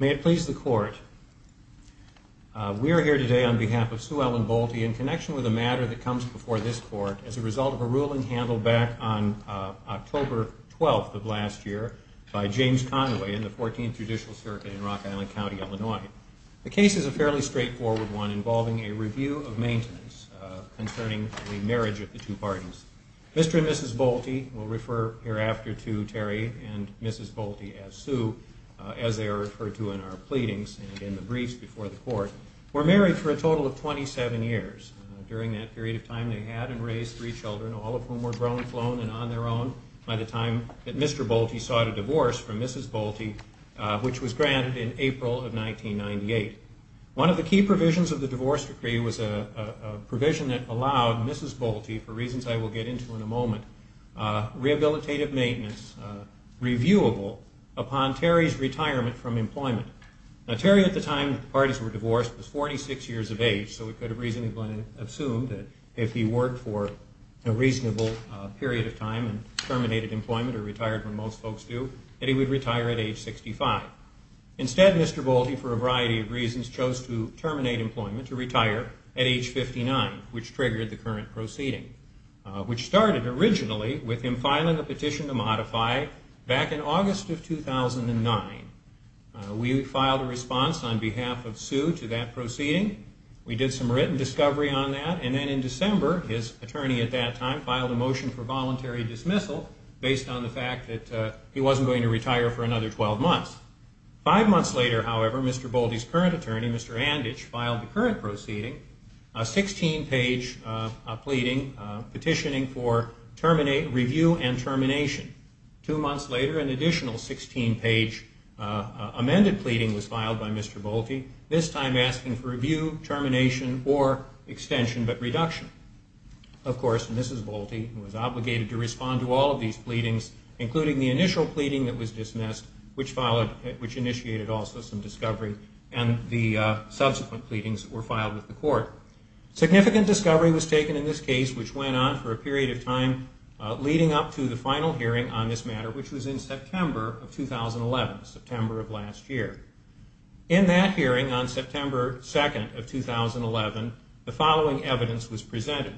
May it please the Court, we are here today on behalf of Sue Ellen Bolte in connection with a matter that comes before this Court as a result of a ruling by the Supreme Court in the United States, a ruling handled back on October 12th of last year by James Conway in the 14th Judicial Circuit in Rock Island County, Illinois. The case is a fairly straightforward one involving a review of maintenance concerning the marriage of the two parties. Mr. and Mrs. Bolte, we'll refer hereafter to Terry and Mrs. Bolte as Sue as they are referred to in our pleadings and in the briefs before the Court, were married for a total of 27 years. During that period of time they had and raised three children, all of whom were grown, flown, and on their own by the time that Mr. Bolte sought a divorce from Mrs. Bolte, which was granted in April of 1998. One of the key provisions of the divorce decree was a provision that allowed Mrs. Bolte, for reasons I will get into in a moment, rehabilitative maintenance, reviewable, upon Terry's retirement from employment. Terry at the time that the parties were divorced was 46 years of age, so we could reasonably assume that if he worked for a reasonable period of time and terminated employment or retired when most folks do, that he would retire at age 65. Instead, Mr. Bolte, for a variety of reasons, chose to terminate employment, to retire at age 59, which triggered the current proceeding, which started originally with him filing a petition to modify back in August of 2009. We filed a response on behalf of Sue to that proceeding. We did some written discovery on that, and then in December his attorney at that time filed a motion for voluntary dismissal based on the fact that he wasn't going to retire for another 12 months. Five months later, however, Mr. Bolte's current attorney, Mr. Anditch, filed the current proceeding, a 16-page pleading petitioning for review and termination. Two months later, an additional 16-page amended pleading was filed by Mr. Bolte, this time asking for review, termination, or extension but reduction. Of course, Mrs. Bolte was obligated to respond to all of these pleadings, including the initial pleading that was dismissed, which initiated also some discovery, and the subsequent pleadings that were filed with the court. Significant discovery was taken in this case, which went on for a period of time, leading up to the final hearing on this matter, which was in September of 2011, September of last year. In that hearing on September 2nd of 2011, the following evidence was presented.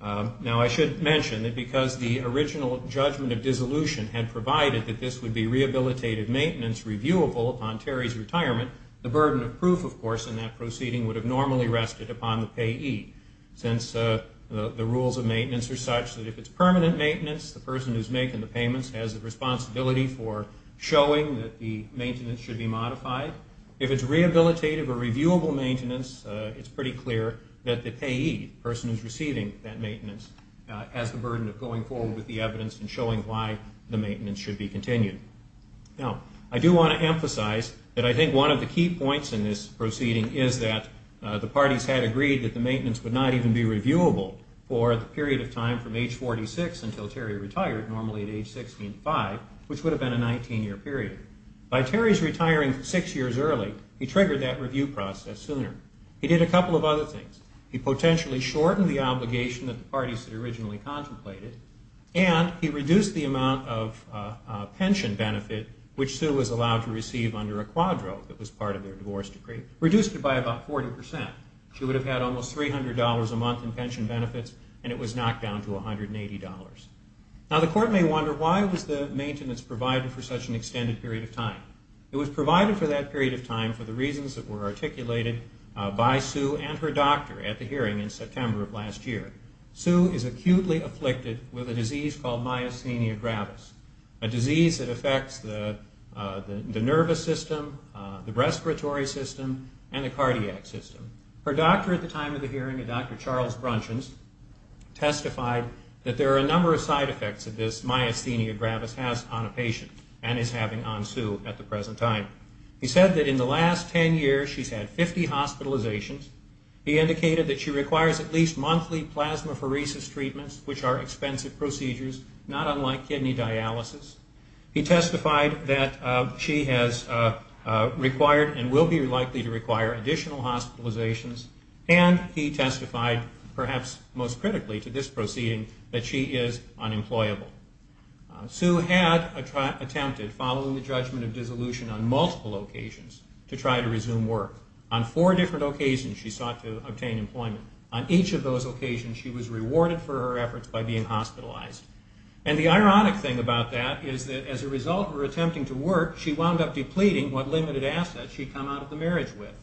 Now, I should mention that because the original judgment of dissolution had provided that this would be rehabilitative maintenance reviewable upon Terry's retirement, the burden of proof, of course, in that proceeding would have normally rested upon the payee, since the rules of maintenance are such that if it's permanent maintenance, the person who's making the payments has a responsibility for showing that the maintenance should be maintained. If it's rehabilitative or reviewable maintenance, it's pretty clear that the payee, the person who's receiving that maintenance, has the burden of going forward with the evidence and showing why the maintenance should be continued. Now, I do want to emphasize that I think one of the key points in this proceeding is that the parties had agreed that the maintenance would not even be reviewable for the period of time from age 46 until Terry retired, normally at age 65, which would have been a 19-year period. By Terry's retiring six years early, he triggered that review process sooner. He did a couple of other things. He potentially shortened the obligation that the parties had originally contemplated, and he reduced the amount of pension benefit which Sue was allowed to receive under a quadro that was part of their divorce decree, reduced it by about 40 percent. She would have had almost $300 a month in pension benefits, and it was knocked down to $180. Now, the court may wonder why was the maintenance provided for such an extended period of time. It was provided for that period of time for the reasons that were articulated by Sue and her doctor at the hearing in September of last year. Sue is acutely afflicted with a disease called myasthenia gravis, a disease that affects the nervous system, the respiratory system, and the cardiac system. Her doctor at the time of the hearing, a Dr. Charles Brunchins, testified that there are a number of side effects that this myasthenia gravis has on a patient and is having on Sue at the present time. He said that in the last 10 years, she's had 50 hospitalizations. He indicated that she requires at least monthly plasmapheresis treatments, which are expensive procedures, not unlike kidney dialysis. He testified that she has required and will be likely to require additional hospitalizations, and he testified, perhaps most critically to this proceeding, that she is unemployable. Sue had attempted, following the judgment of dissolution on multiple occasions, to try to resume work. On four different occasions, she sought to obtain employment. On each of those occasions, she was rewarded for her efforts by being hospitalized. And the ironic thing about that is that as a result of her attempting to work, she wound up depleting what limited assets she had come out of the marriage with.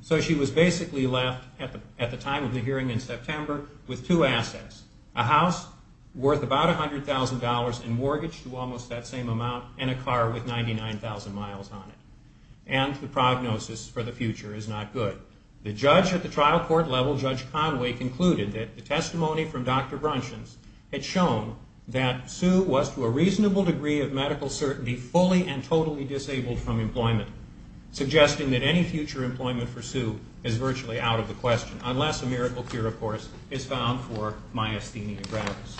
So she was basically left, at the time of the hearing in September, with two assets, a house worth about $100,000 in mortgage to almost that same amount, and a car with 99,000 miles on it. And the prognosis for the future is not good. The judge at the trial court level, Judge Conway, concluded that the testimony from Dr. Brunchins had shown that Sue was to a reasonable degree of medical certainty, fully and totally disabled from employment, suggesting that any future employment for Sue is virtually out of the question, unless a miracle cure, of course, is found for myasthenia gravis.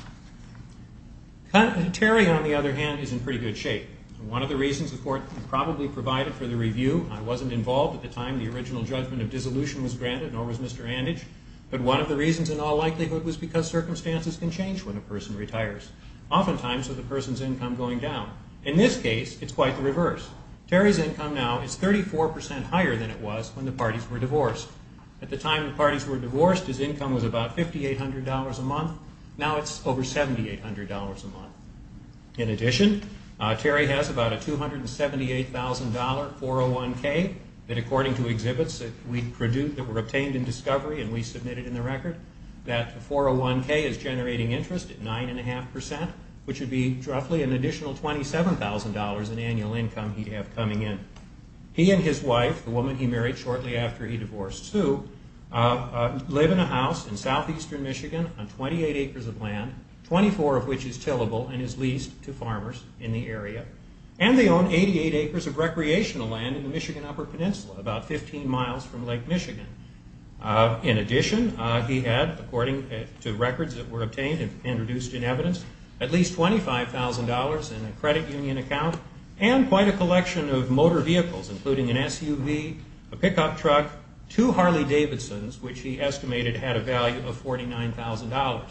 Terry, on the other hand, is in pretty good shape. One of the reasons the court probably provided for the review, I wasn't involved at the time the original judgment of dissolution was granted, nor was Mr. Andage, but one of the reasons in all likelihood was because circumstances can change when a person retires, oftentimes with a person's income going down. In this case, it's quite the reverse. Terry's income now is 34% higher than it was when the parties were divorced. At the time the parties were divorced, his income was about $5,800 a month. Now it's over $1,000. In addition, Terry has about a $278,000 401k, that according to exhibits that we obtained in discovery and we submitted in the record, that the 401k is generating interest at 9.5%, which would be roughly an additional $27,000 in annual income he'd have coming in. He and his wife, the woman he married shortly after he divorced Sue, live in a house in southeastern Michigan on 28 acres of land, and both of them have $13,000 in annual income. The judge at the trial court level, Judge Conway, concluded that the judgment of dissolution was to a reasonable degree of medical certainty, unless a miracle cure, of course, is found for myasthenia gravis. 24 of which is tillable and is leased to farmers in the area. And they own 88 acres of recreational land in the Michigan Upper Peninsula, about 15 miles from Lake Michigan. In addition, he had, according to records that were obtained and produced in evidence, at least $25,000 in a credit union account and quite a collection of motor vehicles, including an SUV, a pickup truck, two Harley Davidsons, which he estimated had a value of $49,000.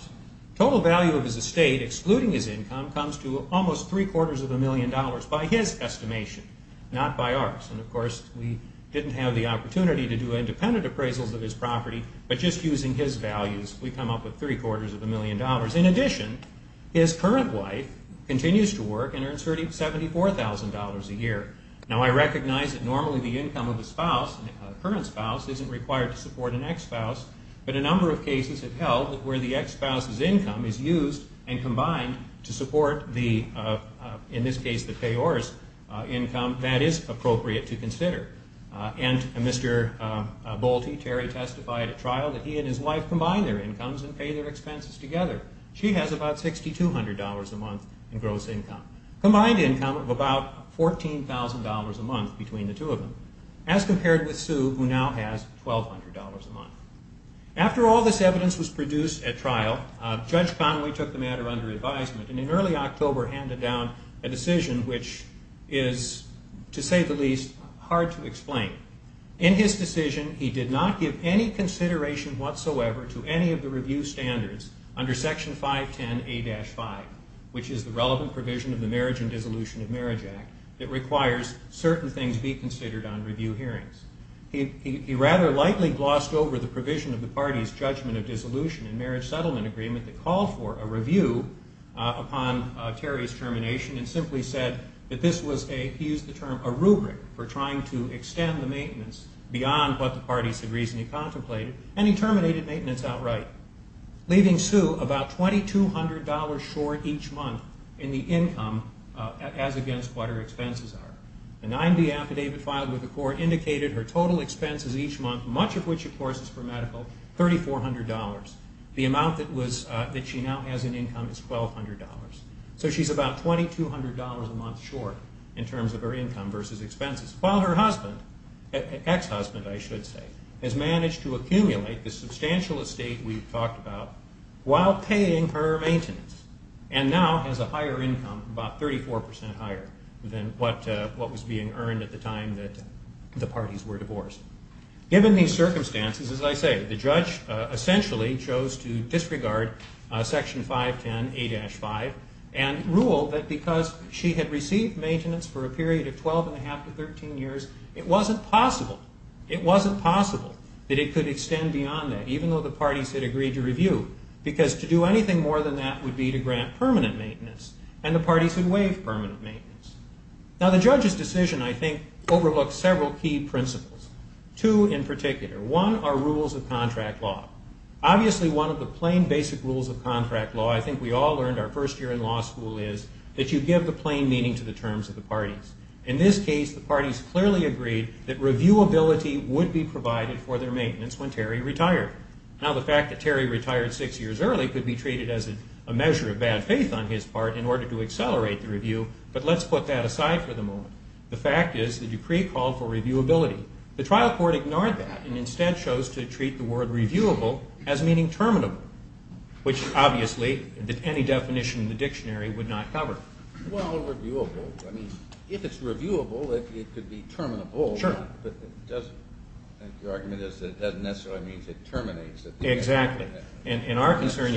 Total value of his estate, excluding his income, comes to almost three quarters of a million dollars, by his estimation, not by ours. And of course, we didn't have the opportunity to do independent appraisals of his property, but just using his values, we come up with three quarters of a million dollars. In addition, his current wife continues to work and earns $74,000 a year. Now, I recognize that normally the income of a spouse, a current spouse, isn't required to support an ex-spouse, but a number of cases have held that where the ex-spouse's income is used and combined to support the, in this case, the payors' income, that is appropriate to consider. And Mr. Bolte, Terry, testified at trial that he and his wife combine their incomes and pay their expenses together. She has about $6,200 a month in gross income, combined income of about $14,000 a month between the two of them, as compared with Sue, who now has $1,200 a month. After all this evidence was produced at trial, Judge Conway took the matter under advisement and in early October handed down a decision which is, to say the least, hard to explain. In his decision, he did not give any consideration whatsoever to any of the review standards under Section 510A-5, which is the relevant provision of the Marriage and Dissolution of Marriage Act that requires certain things be considered on review hearings. He rather lightly glossed over the provision of the party's Judgment of Dissolution and Marriage Settlement Agreement that called for a review upon Terry's termination and simply said that this was a, he used the term, a rubric for trying to extend the maintenance beyond what the parties had reasonably contemplated, and he terminated maintenance outright, leaving Sue about $2,200 short each month in the income as against what her expenses are. The 9B affidavit filed with the court indicated her total expenses each month, much of which, of course, is for medical, $3,400. The amount that she now has in income is $1,200. So she's about $2,200 a month short in terms of her income versus expenses. While her husband, ex-husband I should say, has managed to accumulate the substantial estate we've talked about while paying for her maintenance, and now has a higher income, about 34% higher than what was being earned at the time that the parties were divorced. Given these circumstances, as I say, the judge essentially chose to disregard Section 510A-5 and rule that because she had received maintenance for a period of 12 and a half to 13 years, it wasn't possible, it wasn't possible that it could extend beyond that, even though the parties had agreed to review, because to do anything more than that would be to grant permanent maintenance, and the parties would waive permanent maintenance. Now, the judge's decision, I think, overlooks several key principles. Two in particular. One are rules of contract law. Obviously, one of the plain basic rules of contract law, I think we all learned our first year in law school is that you give the plain meaning to the terms of the parties. In this case, the parties clearly agreed that reviewability would be provided for their maintenance when Terry retired. Now, the fact that Terry retired six years early could be treated as a measure of bad faith on his part in order to accelerate the review, but let's put that aside for the moment. The fact is the decree called for reviewability. The trial court ignored that and instead chose to treat the word reviewable as meaning terminable, which obviously any definition in the dictionary would not cover. Well, reviewable. I mean, if it's reviewable, it could be terminable. Sure. But your argument is that it doesn't necessarily mean it terminates. Yes, thank you. And our concern,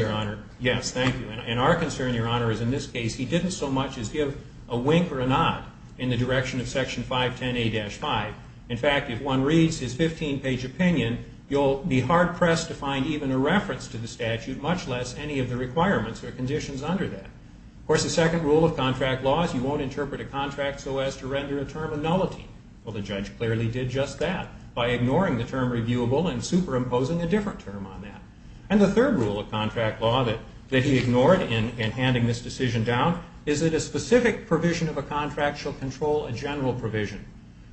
Your Honor, is in this case he didn't so much as give a wink or a nod in the direction of Section 510A-5. In fact, if one reads his 15-page opinion, you'll be hard-pressed to find even a reference to the statute, much less any of the requirements or conditions under that. Of course, the second rule of contract law is you won't interpret a contract so as to render a term a nullity. Well, the judge clearly did just that by ignoring the term reviewable and superimposing a different term on that. And the third rule of contract law that he ignored in handing this decision down is that a specific provision of a contract shall control a general provision.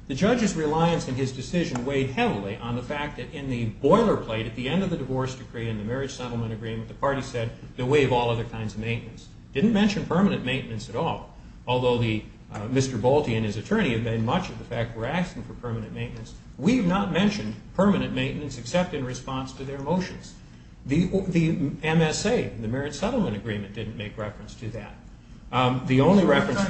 The judge's reliance in his decision weighed heavily on the fact that in the boilerplate at the end of the divorce decree and the marriage settlement agreement, the party said they'll waive all other kinds of maintenance. Didn't mention permanent maintenance at all, although Mr. Bolte and his attorney have made much of the fact we're asking for permanent maintenance. We have not mentioned permanent maintenance except in response to their motions. The MSA, the marriage settlement agreement, didn't make reference to that. What kind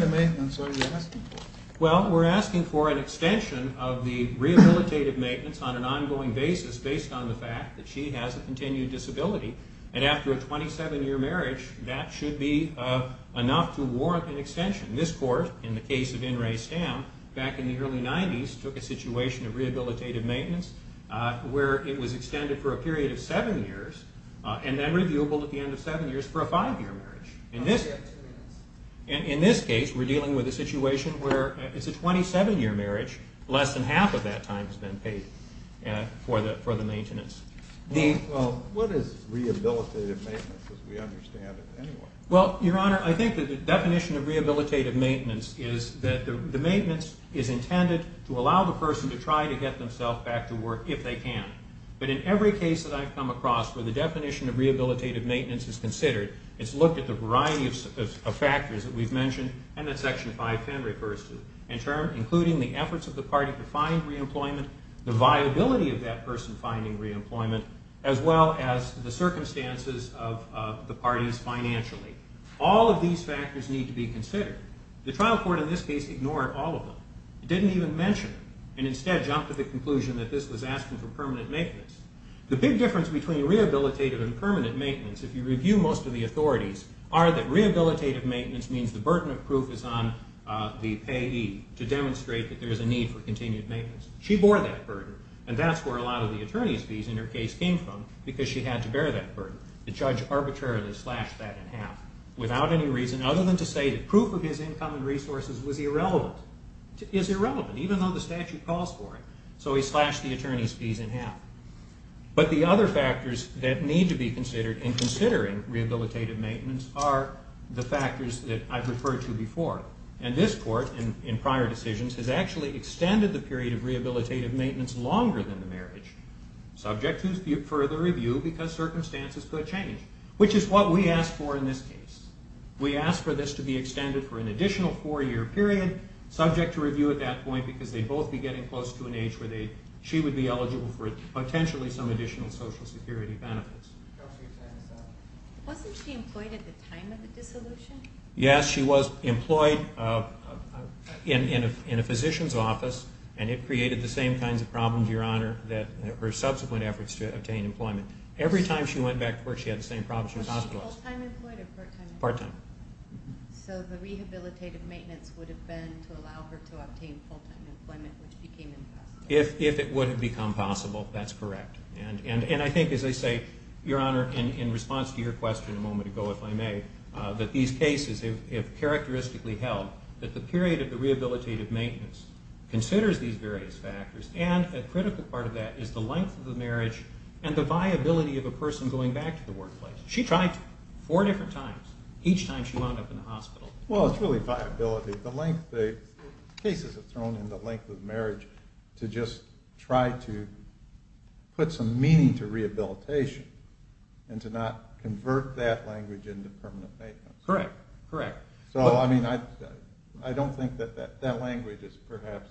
of maintenance are you asking for? Well, we're asking for an extension of the rehabilitative maintenance on an ongoing basis based on the fact that she has a continued disability. And after a 27-year marriage, that should be enough to warrant an extension. This court, in the case of In re Stam, back in the early 90s, took a situation of rehabilitative maintenance where it was extended for a period of seven years and then reviewable at the end of seven years for a five-year marriage. In this case, we're dealing with a situation where it's a 27-year marriage. Less than half of that time has been paid for the maintenance. What is rehabilitative maintenance as we understand it anyway? Well, Your Honor, I think that the definition of rehabilitative maintenance is that the maintenance is intended to allow the person to try to get themselves back to work if they can. But in every case that I've come across where the definition of rehabilitative maintenance is considered, it's looked at the variety of factors that we've mentioned and that Section 510 refers to. In turn, including the efforts of the party to find reemployment, the viability of that person finding reemployment, as well as the circumstances of the parties financially. All of these factors need to be considered. The trial court in this case ignored all of them. It didn't even mention them and instead jumped to the conclusion that this was asking for permanent maintenance. The big difference between rehabilitative and permanent maintenance, if you review most of the authorities, are that rehabilitative maintenance means the burden of proof is on the payee to demonstrate that there is a need for continued maintenance. She bore that burden and that's where a lot of the attorneys fees in her case came from because she had to bear that burden. The judge arbitrarily slashed that in half without any reason other than to say that proof of his income and resources was irrelevant. Even though the statute calls for it. So he slashed the attorney's fees in half. But the other factors that need to be considered in considering rehabilitative maintenance are the factors that I've referred to before. And this court, in prior decisions, has actually extended the period of rehabilitative maintenance longer than the marriage, subject to further review because circumstances could change. Which is what we asked for in this case. We asked for this to be extended for an additional four-year period, subject to review at that point because they'd both be getting close to an age where she would be eligible for potentially some additional social security benefits. Wasn't she employed at the time of the dissolution? Yes, she was employed in a physician's office and it created the same kinds of problems, Your Honor, that her subsequent efforts to obtain employment. Every time she went back to work, she had the same problems. Was she full-time employed or part-time? Part-time. So the rehabilitative maintenance would have been to allow her to obtain full-time employment, which became impossible. If it would have become possible, that's correct. And I think, as I say, Your Honor, in response to your question a moment ago, if I may, that these cases have characteristically held that the period of the rehabilitative maintenance considers these various factors. And a critical part of that is the length of the marriage and the viability of a person going back to the workplace. She tried four different times, each time she wound up in the hospital. Well, it's really viability. The cases are thrown in the length of marriage to just try to put some meaning to rehabilitation and to not convert that language into permanent maintenance. Correct, correct. So, I mean, I don't think that that language is perhaps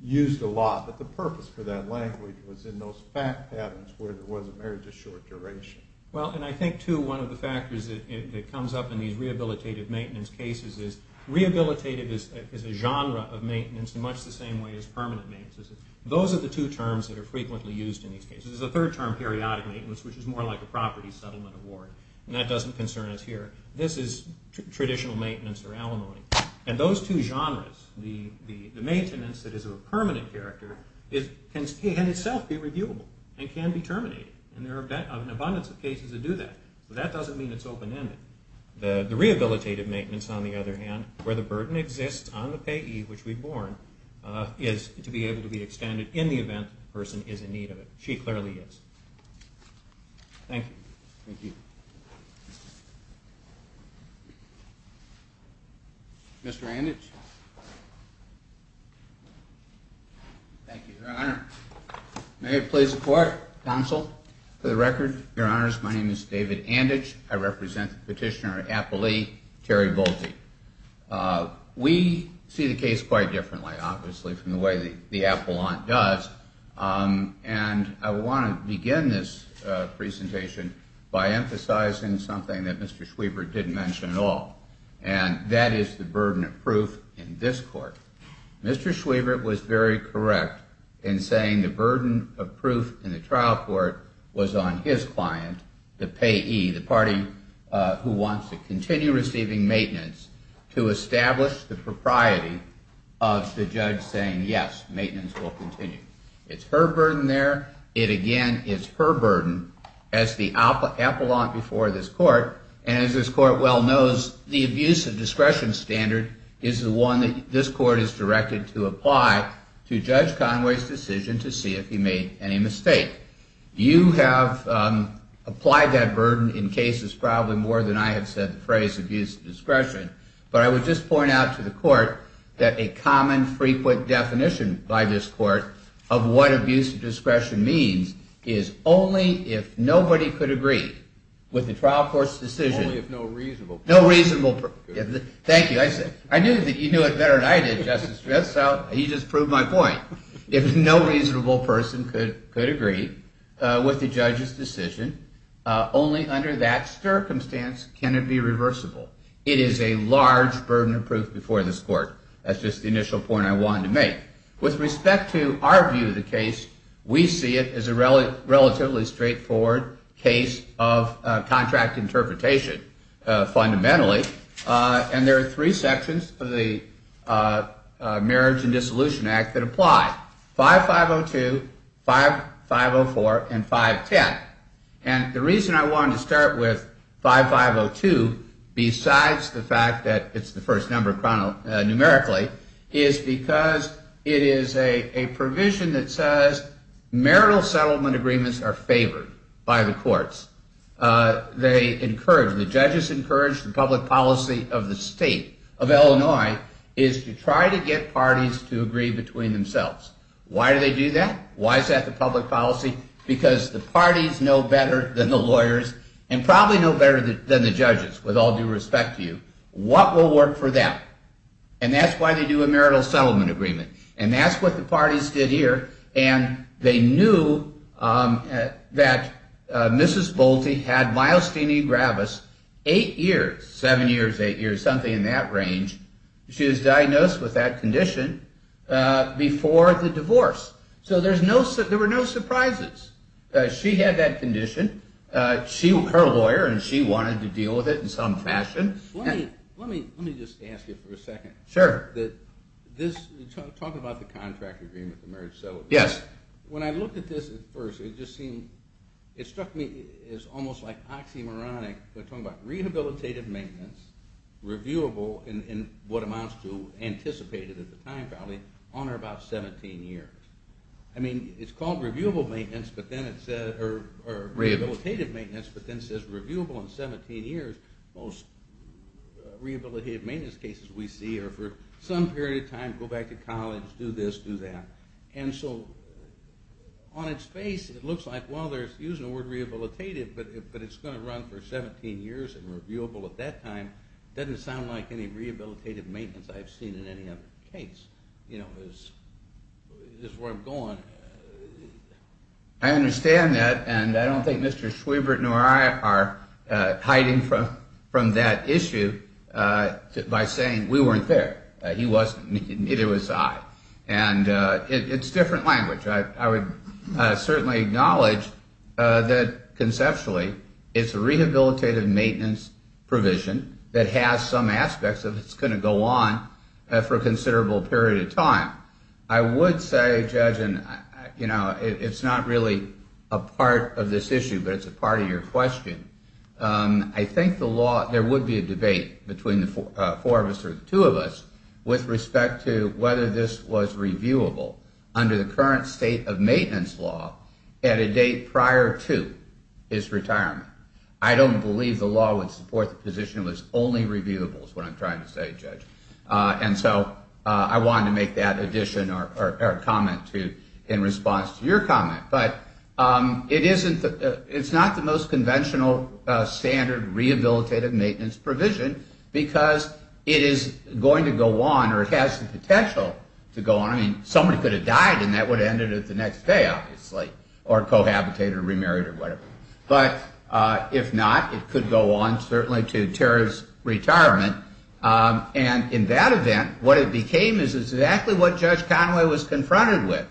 used a lot, but the purpose for that language was in those fact patterns where there was a marriage of short duration. Well, and I think, too, one of the factors that comes up in these rehabilitative maintenance cases is rehabilitative is a genre of maintenance in much the same way as permanent maintenance is. Those are the two terms that are frequently used in these cases. There's a third term, periodic maintenance, which is more like a property settlement award, and that doesn't concern us here. This is traditional maintenance or alimony. And those two genres, the maintenance that is of a permanent character, can itself be reviewable and can be terminated. And there are an abundance of cases that do that. But that doesn't mean it's open-ended. The rehabilitative maintenance, on the other hand, where the burden exists on the payee, which we've borne, is to be able to be extended in the event the person is in need of it. She clearly is. Thank you. Thank you. Mr. Anditsch? Thank you, Your Honor. May it please the court, counsel, for the record, Your Honors, my name is David Anditsch. I represent the petitioner at Applee, Terry Bolte. We see the case quite differently, obviously, from the way the appellant does. And I want to begin this presentation by emphasizing something that Mr. Schwiebert didn't mention at all, and that is the burden of proof in this court. Mr. Schwiebert was very correct in saying the burden of proof in the trial court was on his client, the payee, the party who wants to continue receiving maintenance, to establish the propriety of the judge saying, yes, maintenance will continue. It's her burden there. It, again, is her burden as the appellant before this court. And as this court well knows, the abuse of discretion standard is the one that this court is directed to apply to Judge Conway's decision to see if he made any mistake. You have applied that burden in cases probably more than I have said the phrase abuse of discretion. But I would just point out to the court that a common, frequent definition by this court of what abuse of discretion means is only if nobody could agree with the trial court's decision. Only if no reasonable person could. Thank you. I knew that you knew it better than I did, Justice Schwiebert, so you just proved my point. If no reasonable person could agree with the judge's decision, only under that circumstance can it be reversible. It is a large burden of proof before this court. That's just the initial point I wanted to make. With respect to our view of the case, we see it as a relatively straightforward case of contract interpretation fundamentally. And there are three sections of the Marriage and Dissolution Act that apply. 5502, 5504, and 510. And the reason I wanted to start with 5502, besides the fact that it's the first number numerically, is because it is a provision that says marital settlement agreements are favored by the courts. The judges encourage the public policy of the state of Illinois is to try to get parties to agree between themselves. Why do they do that? Why is that the public policy? Because the parties know better than the lawyers and probably know better than the judges, with all due respect to you, what will work for them. And that's why they do a marital settlement agreement. And that's what the parties did here. And they knew that Mrs. Bolte had myelostenia gravis eight years, seven years, eight years, something in that range. She was diagnosed with that condition before the divorce. So there were no surprises. She had that condition. She, her lawyer, and she wanted to deal with it in some fashion. Let me just ask you for a second. Sure. Talking about the contract agreement, the marriage settlement agreement. Yes. When I looked at this at first, it just seemed, it struck me as almost like oxymoronic. We're talking about rehabilitative maintenance, reviewable in what amounts to anticipated at the time probably, on or about 17 years. I mean, it's called reviewable maintenance, but then it said, or rehabilitative maintenance, but then it says reviewable in 17 years. Most rehabilitative maintenance cases we see are for some period of time, go back to college, do this, do that. And so on its face, it looks like, well, they're using the word rehabilitative, but it's going to run for 17 years and reviewable at that time. Doesn't sound like any rehabilitative maintenance I've seen in any other case, you know, is where I'm going. I understand that, and I don't think Mr. Schwebert nor I are hiding from that issue by saying we weren't there. He wasn't, neither was I. And it's different language. I would certainly acknowledge that conceptually, it's a rehabilitative maintenance provision that has some aspects of it's going to go on for a considerable period of time. I would say, Judge, and, you know, it's not really a part of this issue, but it's a part of your question. I think the law, there would be a debate between the four of us or the two of us with respect to whether this was reviewable. Under the current state of maintenance law, at a date prior to his retirement. I don't believe the law would support the position it was only reviewable is what I'm trying to say, Judge. And so I wanted to make that addition or comment in response to your comment. But it isn't, it's not the most conventional standard rehabilitative maintenance provision because it is going to go on or it has the potential to go on. I mean, somebody could have died and that would have ended at the next day, obviously, or cohabitated or remarried or whatever. But if not, it could go on, certainly to Terry's retirement. And in that event, what it became is exactly what Judge Conway was confronted with.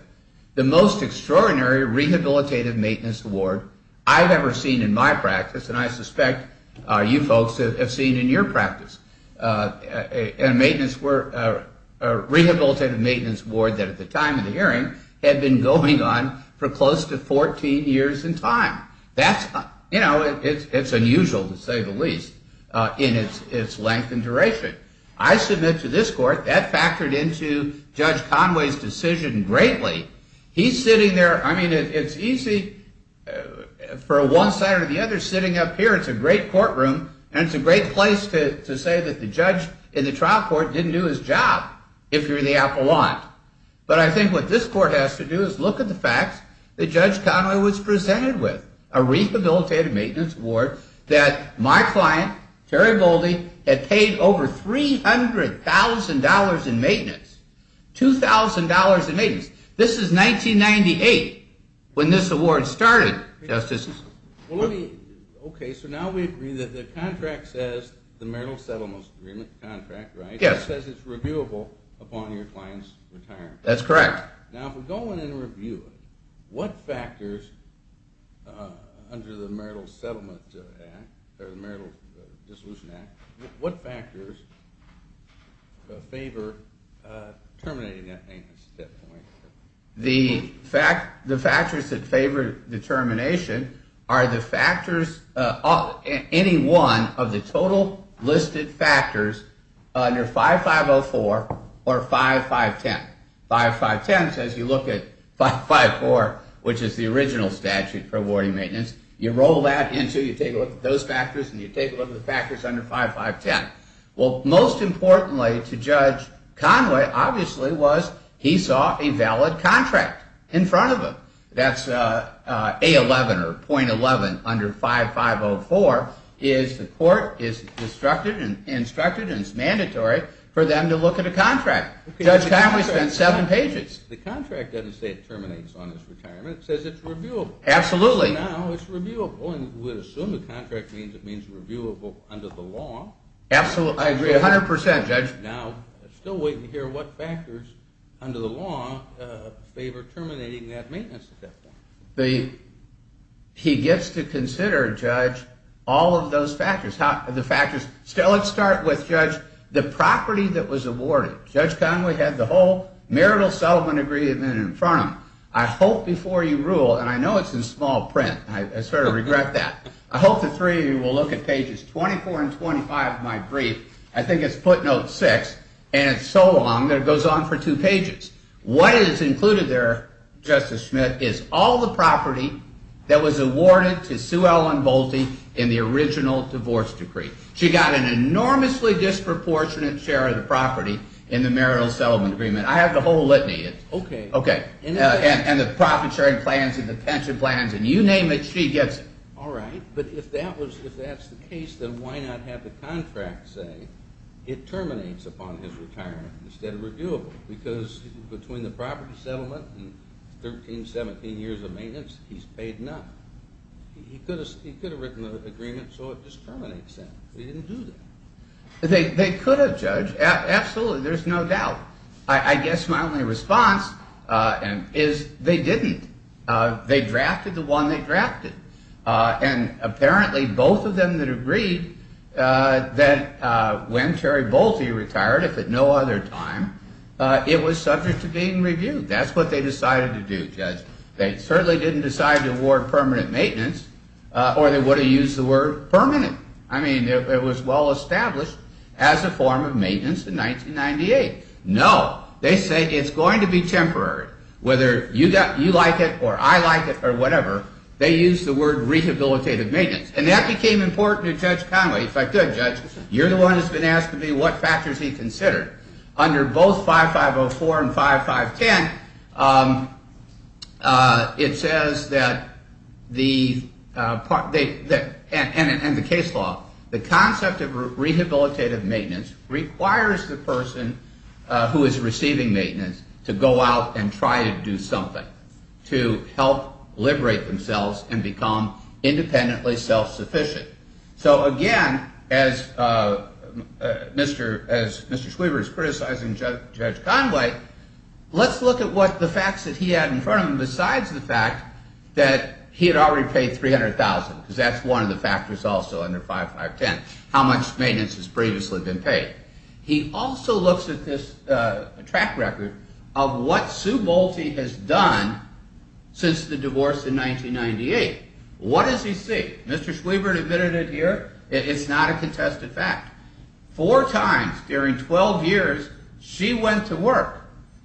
The most extraordinary rehabilitative maintenance award I've ever seen in my practice, and I suspect you folks have seen in your practice. A rehabilitative maintenance award that at the time of the hearing had been going on for close to 14 years in time. That's unusual, to say the least, in its length and duration. I submit to this court that factored into Judge Conway's decision greatly. He's sitting there, I mean, it's easy for one side or the other sitting up here. It's a great courtroom and it's a great place to say that the judge in the trial court didn't do his job, if you're the apple lot. But I think what this court has to do is look at the facts that Judge Conway was presented with. A rehabilitative maintenance award that my client, Terry Boldy, had paid over $300,000 in maintenance. $2,000 in maintenance. This is 1998 when this award started, Justice. Okay, so now we agree that the contract says the marital settlement agreement contract, right? Yes. It says it's reviewable upon your client's retirement. That's correct. Now, if we go in and review it, what factors under the Marital Settlement Act, or the Marital Dissolution Act, what factors favor terminating that maintenance at that point? The factors that favor the termination are the factors, any one of the total listed factors under 5504 or 5510. 5510 says you look at 554, which is the original statute for awarding maintenance. You roll that into, you take a look at those factors and you take a look at the factors under 5510. Well, most importantly to Judge Conway, obviously, was he saw a valid contract in front of him. That's A11 or .11 under 5504. The court is instructed and it's mandatory for them to look at a contract. Judge Conway spent seven pages. The contract doesn't say it terminates on his retirement. It says it's reviewable. Absolutely. So now it's reviewable and we assume the contract means it's reviewable under the law. Absolutely. I agree 100%, Judge. Now, still waiting to hear what factors under the law favor terminating that maintenance at that point. He gets to consider, Judge, all of those factors. Let's start with, Judge, the property that was awarded. Judge Conway had the whole Marital Settlement Agreement in front of him. I hope before you rule, and I know it's in small print. I sort of regret that. I hope the three of you will look at pages 24 and 25 of my brief. I think it's footnote 6, and it's so long that it goes on for two pages. What is included there, Justice Schmidt, is all the property that was awarded to Sue Ellen Bolte in the original divorce decree. She got an enormously disproportionate share of the property in the Marital Settlement Agreement. I have the whole litany. Okay. Okay. And the profit sharing plans and the pension plans, and you name it, she gets it. All right. But if that's the case, then why not have the contract say it terminates upon his retirement instead of reviewable? Because between the property settlement and 13, 17 years of maintenance, he's paid none. He could have written the agreement so it just terminates then, but he didn't do that. They could have, Judge. Absolutely. There's no doubt. I guess my only response is they didn't. They drafted the one they drafted, and apparently both of them that agreed that when Terry Bolte retired, if at no other time, it was subject to being reviewed. That's what they decided to do, Judge. They certainly didn't decide to award permanent maintenance, or they would have used the word permanent. I mean, it was well established as a form of maintenance in 1998. No. They say it's going to be temporary, whether you like it or I like it or whatever, they used the word rehabilitative maintenance, and that became important to Judge Conway. In fact, good, Judge, you're the one who's been asked to be what factors he considered. Under both 5504 and 5510, it says that the, and the case law, the concept of rehabilitative maintenance requires the person who is receiving maintenance to go out and try to do something to help liberate themselves and become independently self-sufficient. So again, as Mr. Schwieber is criticizing Judge Conway, let's look at what the facts that he had in front of him, besides the fact that he had already paid $300,000, because that's one of the factors also under 5510, how much maintenance has previously been paid. He also looks at this track record of what Sue Bolte has done since the divorce in 1998. What does he see? Mr. Schwieber admitted it here. It's not a contested fact. Four times during 12 years, she went to work.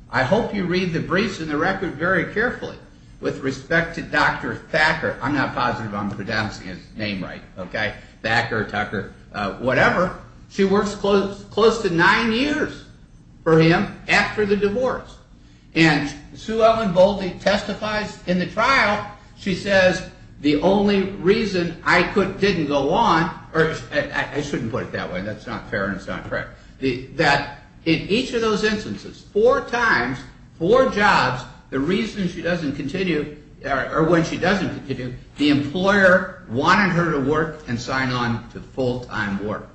I hope you read the briefs and the record very carefully. With respect to Dr. Thacker, I'm not positive I'm pronouncing his name right, okay, Thacker, Tucker, whatever, she works close to nine years for him after the divorce, and Sue Ellen Bolte testifies in the trial, she says the only reason I didn't go on, or I shouldn't put it that way, that's not fair and it's not correct, that in each of those instances, four times, four jobs, the reason she doesn't continue, or when she doesn't continue, the employer wanted her to work and sign on to full-time work.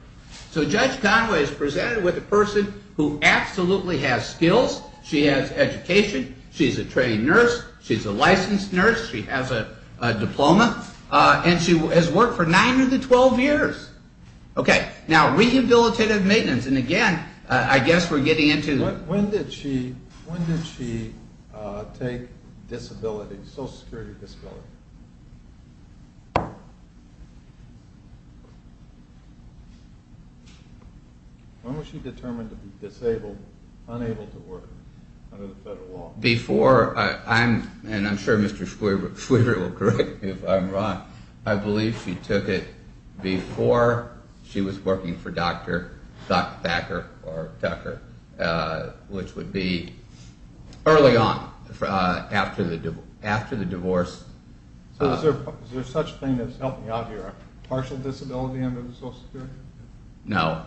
So Judge Conway is presented with a person who absolutely has skills, she has education, she's a trained nurse, she's a licensed nurse, she has a diploma, and she has worked for nine of the 12 years. Okay, now rehabilitative maintenance, and again, I guess we're getting into... When did she take social security disability? When was she determined to be disabled, unable to work under the federal law? Before, and I'm sure Mr. Fleaver will correct me if I'm wrong, I believe she took it before she was working for Dr. Thacker or Tucker, which would be early on, after the divorce. Is there such a thing as, help me out here, partial disability under social security? No.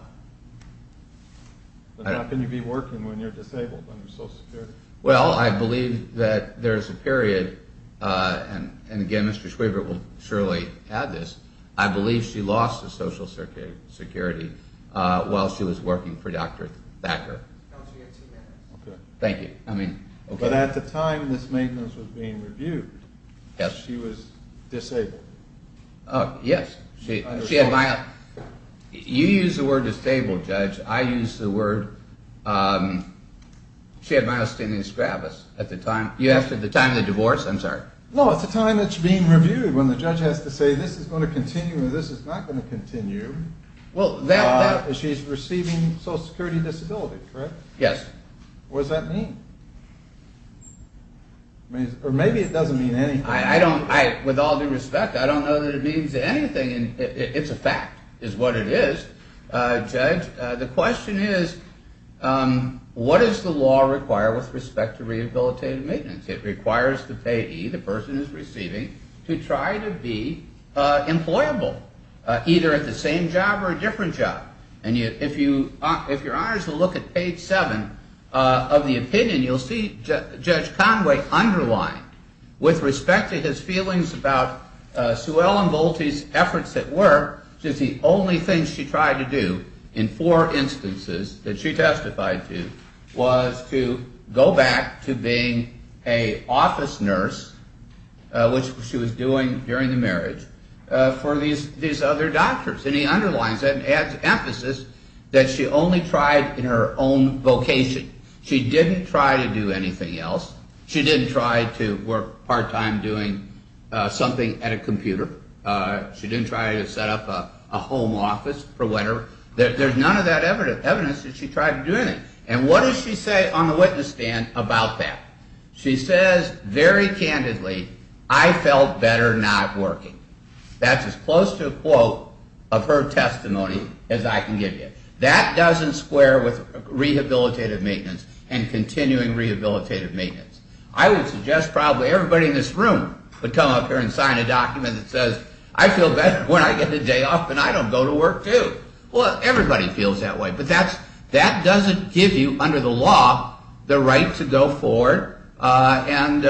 How can you be working when you're disabled under social security? Well, I believe that there's a period, and again, Mr. Schweber will surely add this, I believe she lost her social security while she was working for Dr. Thacker. Okay. Thank you. But at the time this maintenance was being reviewed, she was disabled. Oh, yes. You use the word disabled, Judge, I use the word... She had myasthenia strabis at the time. You asked at the time of the divorce? I'm sorry. No, at the time it's being reviewed when the judge has to say this is going to continue or this is not going to continue. She's receiving social security disability, correct? Yes. What does that mean? Or maybe it doesn't mean anything. With all due respect, I don't know that it means anything. It's a fact, is what it is, Judge. The question is, what does the law require with respect to rehabilitative maintenance? It requires the payee, the person who's receiving, to try to be employable, either at the same job or a different job. And if you're honored to look at page 7 of the opinion, you'll see Judge Conway underlined, with respect to his feelings about Sewell and Volpe's efforts at work, that the only thing she tried to do in four instances that she testified to was to go back to being an office nurse, which she was doing during the marriage, for these other doctors. And he underlines that and adds emphasis that she only tried in her own vocation. She didn't try to do anything else. She didn't try to work part-time doing something at a computer. She didn't try to set up a home office for whatever. There's none of that evidence that she tried to do anything. And what does she say on the witness stand about that? She says very candidly, I felt better not working. That's as close to a quote of her testimony as I can give you. That doesn't square with rehabilitative maintenance and continuing rehabilitative maintenance. I would suggest probably everybody in this room would come up here and sign a document that says, I feel better when I get a day off and I don't go to work, too. Well, everybody feels that way. But that doesn't give you, under the law, the right to go forward and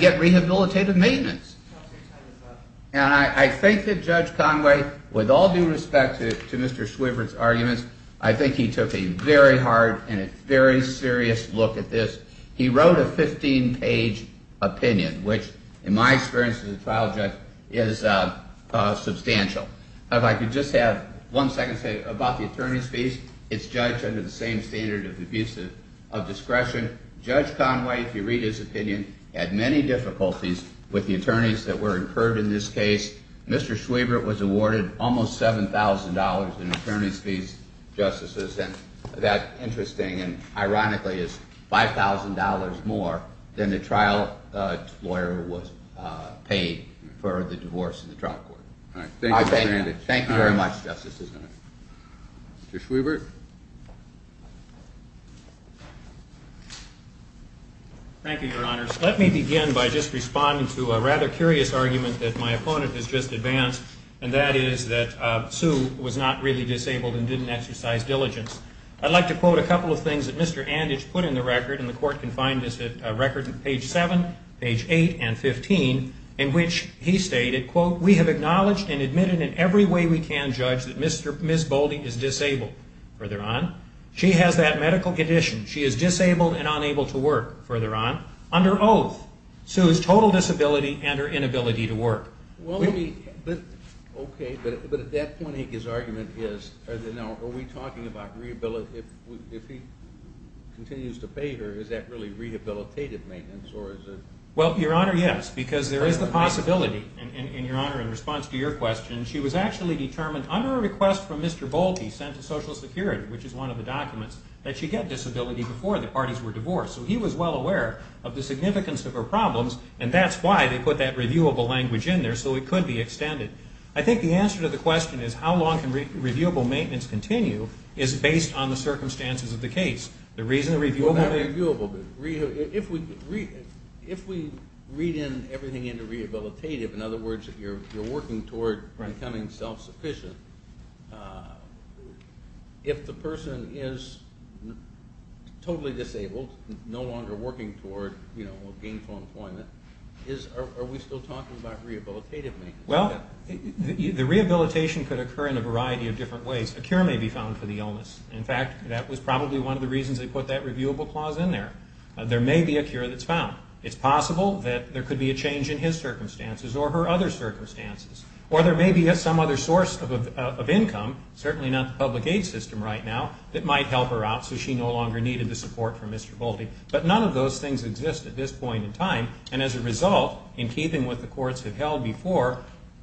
get rehabilitative maintenance. And I think that Judge Conway, with all due respect to Mr. Swivert's arguments, I think he took a very hard and a very serious look at this. He wrote a 15-page opinion, which, in my experience as a trial judge, is substantial. If I could just have one second to say about the attorney's fees. It's judged under the same standard of abuse of discretion. Judge Conway, if you read his opinion, had many difficulties with the attorneys that were incurred in this case. Mr. Swivert was awarded almost $7,000 in attorney's fees, justices. And that, interesting and ironically, is $5,000 more than the trial lawyer was paid for the divorce in the trial court. All right. Thank you very much, Justices. Mr. Swivert. Thank you, Your Honors. Let me begin by just responding to a rather curious argument that my opponent has just advanced, and that is that Sue was not really disabled and didn't exercise diligence. I'd like to quote a couple of things that Mr. Anditch put in the record, and the Court can find this record at page 7, page 8, and 15, in which he stated, quote, we have acknowledged and admitted in every way we can, Judge, that Ms. Boldy is disabled. Further on, she has that medical condition. She is disabled and unable to work. Further on, under oath, Sue's total disability and her inability to work. Okay, but at that point, his argument is, are we talking about rehabilitation? If he continues to pay her, is that really rehabilitative maintenance, or is it? Well, Your Honor, yes, because there is the possibility. And, Your Honor, in response to your question, she was actually determined, under a request from Mr. Boldy sent to Social Security, which is one of the documents, that she get disability before the parties were divorced. So he was well aware of the significance of her problems, and that's why they put that reviewable language in there, so it could be extended. I think the answer to the question is, how long can reviewable maintenance continue, is based on the circumstances of the case. The reason to review about it. If we read in everything into rehabilitative, in other words, you're working toward becoming self-sufficient, if the person is totally disabled, no longer working toward gainful employment, are we still talking about rehabilitative maintenance? Well, the rehabilitation could occur in a variety of different ways. A cure may be found for the illness. In fact, that was probably one of the reasons they put that reviewable clause in there. There may be a cure that's found. It's possible that there could be a change in his circumstances or her other circumstances. Or there may be some other source of income, certainly not the public aid system right now, that might help her out so she no longer needed the support from Mr. Boldy. But none of those things exist at this point in time. And as a result, in keeping with what the courts have held before,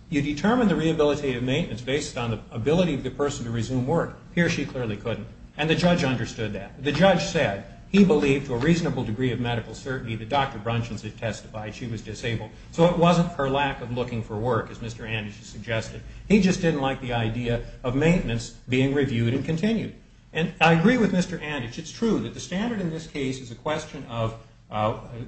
you determine the rehabilitative maintenance based on the ability of the person to resume work. Here she clearly couldn't. And the judge understood that. The judge said he believed to a reasonable degree of medical certainty that Dr. Brunson had testified she was disabled. So it wasn't her lack of looking for work, as Mr. Anderson suggested. He just didn't like the idea of maintenance being reviewed and continued. And I agree with Mr. Anditch. It's true that the standard in this case is a question of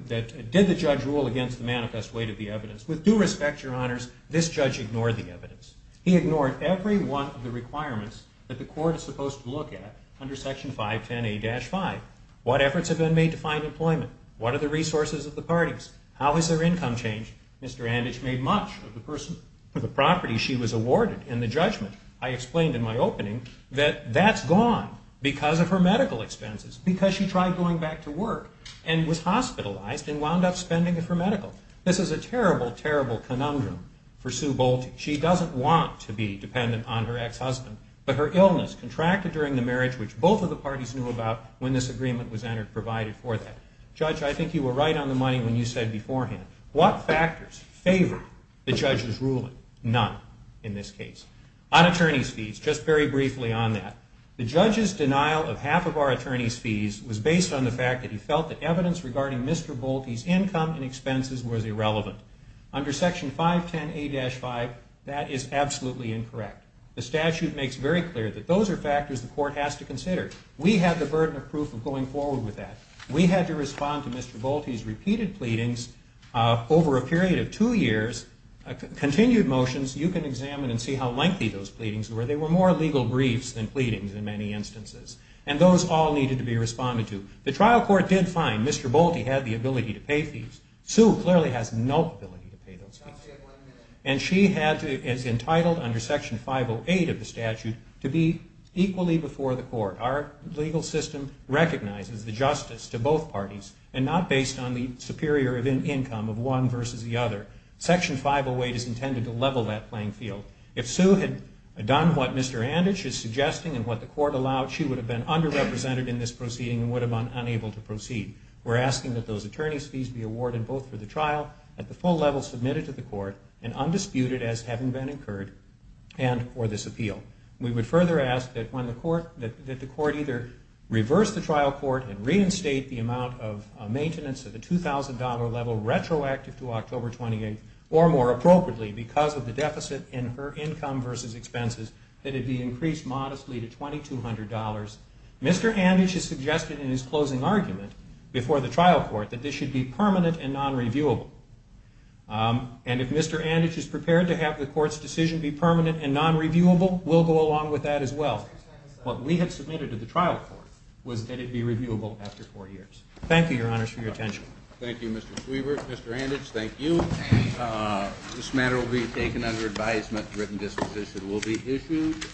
did the judge rule against the manifest weight of the evidence. With due respect, Your Honors, this judge ignored the evidence. He ignored every one of the requirements that the court is supposed to look at under Section 510A-5. What efforts have been made to find employment? What are the resources of the parties? How has their income changed? Mr. Anditch made much of the property she was awarded in the judgment, I explained in my opening, that that's gone because of her medical expenses, because she tried going back to work and was hospitalized and wound up spending it for medical. This is a terrible, terrible conundrum for Sue Bolte. She doesn't want to be dependent on her ex-husband, but her illness contracted during the marriage, which both of the parties knew about when this agreement was provided for that. Judge, I think you were right on the money when you said beforehand, what factors favored the judge's ruling? None, in this case. On attorney's fees, just very briefly on that. The judge's denial of half of our attorney's fees was based on the fact that he felt that evidence regarding Mr. Bolte's income and expenses was irrelevant. Under Section 510A-5, that is absolutely incorrect. The statute makes very clear that those are factors the court has to consider. We have the burden of proof of going forward with that. We had to respond to Mr. Bolte's repeated pleadings over a period of two years, continued motions. You can examine and see how lengthy those pleadings were. They were more legal briefs than pleadings in many instances, and those all needed to be responded to. The trial court did find Mr. Bolte had the ability to pay fees. Sue clearly has no ability to pay those fees, and she is entitled under Section 508 of the statute to be equally before the court. Our legal system recognizes the justice to both parties and not based on the superior income of one versus the other. Section 508 is intended to level that playing field. If Sue had done what Mr. Anditch is suggesting and what the court allowed, she would have been underrepresented in this proceeding and would have been unable to proceed. We're asking that those attorney's fees be awarded both for the trial, at the full level submitted to the court, and undisputed as having been incurred and for this appeal. We would further ask that the court either reverse the trial court and reinstate the amount of maintenance at the $2,000 level retroactive to October 28th, or more appropriately, because of the deficit in her income versus expenses, that it be increased modestly to $2,200. Mr. Anditch has suggested in his closing argument before the trial court that this should be permanent and nonreviewable. And if Mr. Anditch is prepared to have the court's decision be permanent and nonreviewable, we'll go along with that as well. What we have submitted to the trial court was that it be reviewable after four years. Thank you, Your Honors, for your attention. Thank you, Mr. Kluber. Mr. Anditch, thank you. This matter will be taken under advisement. The written disposition will be issued.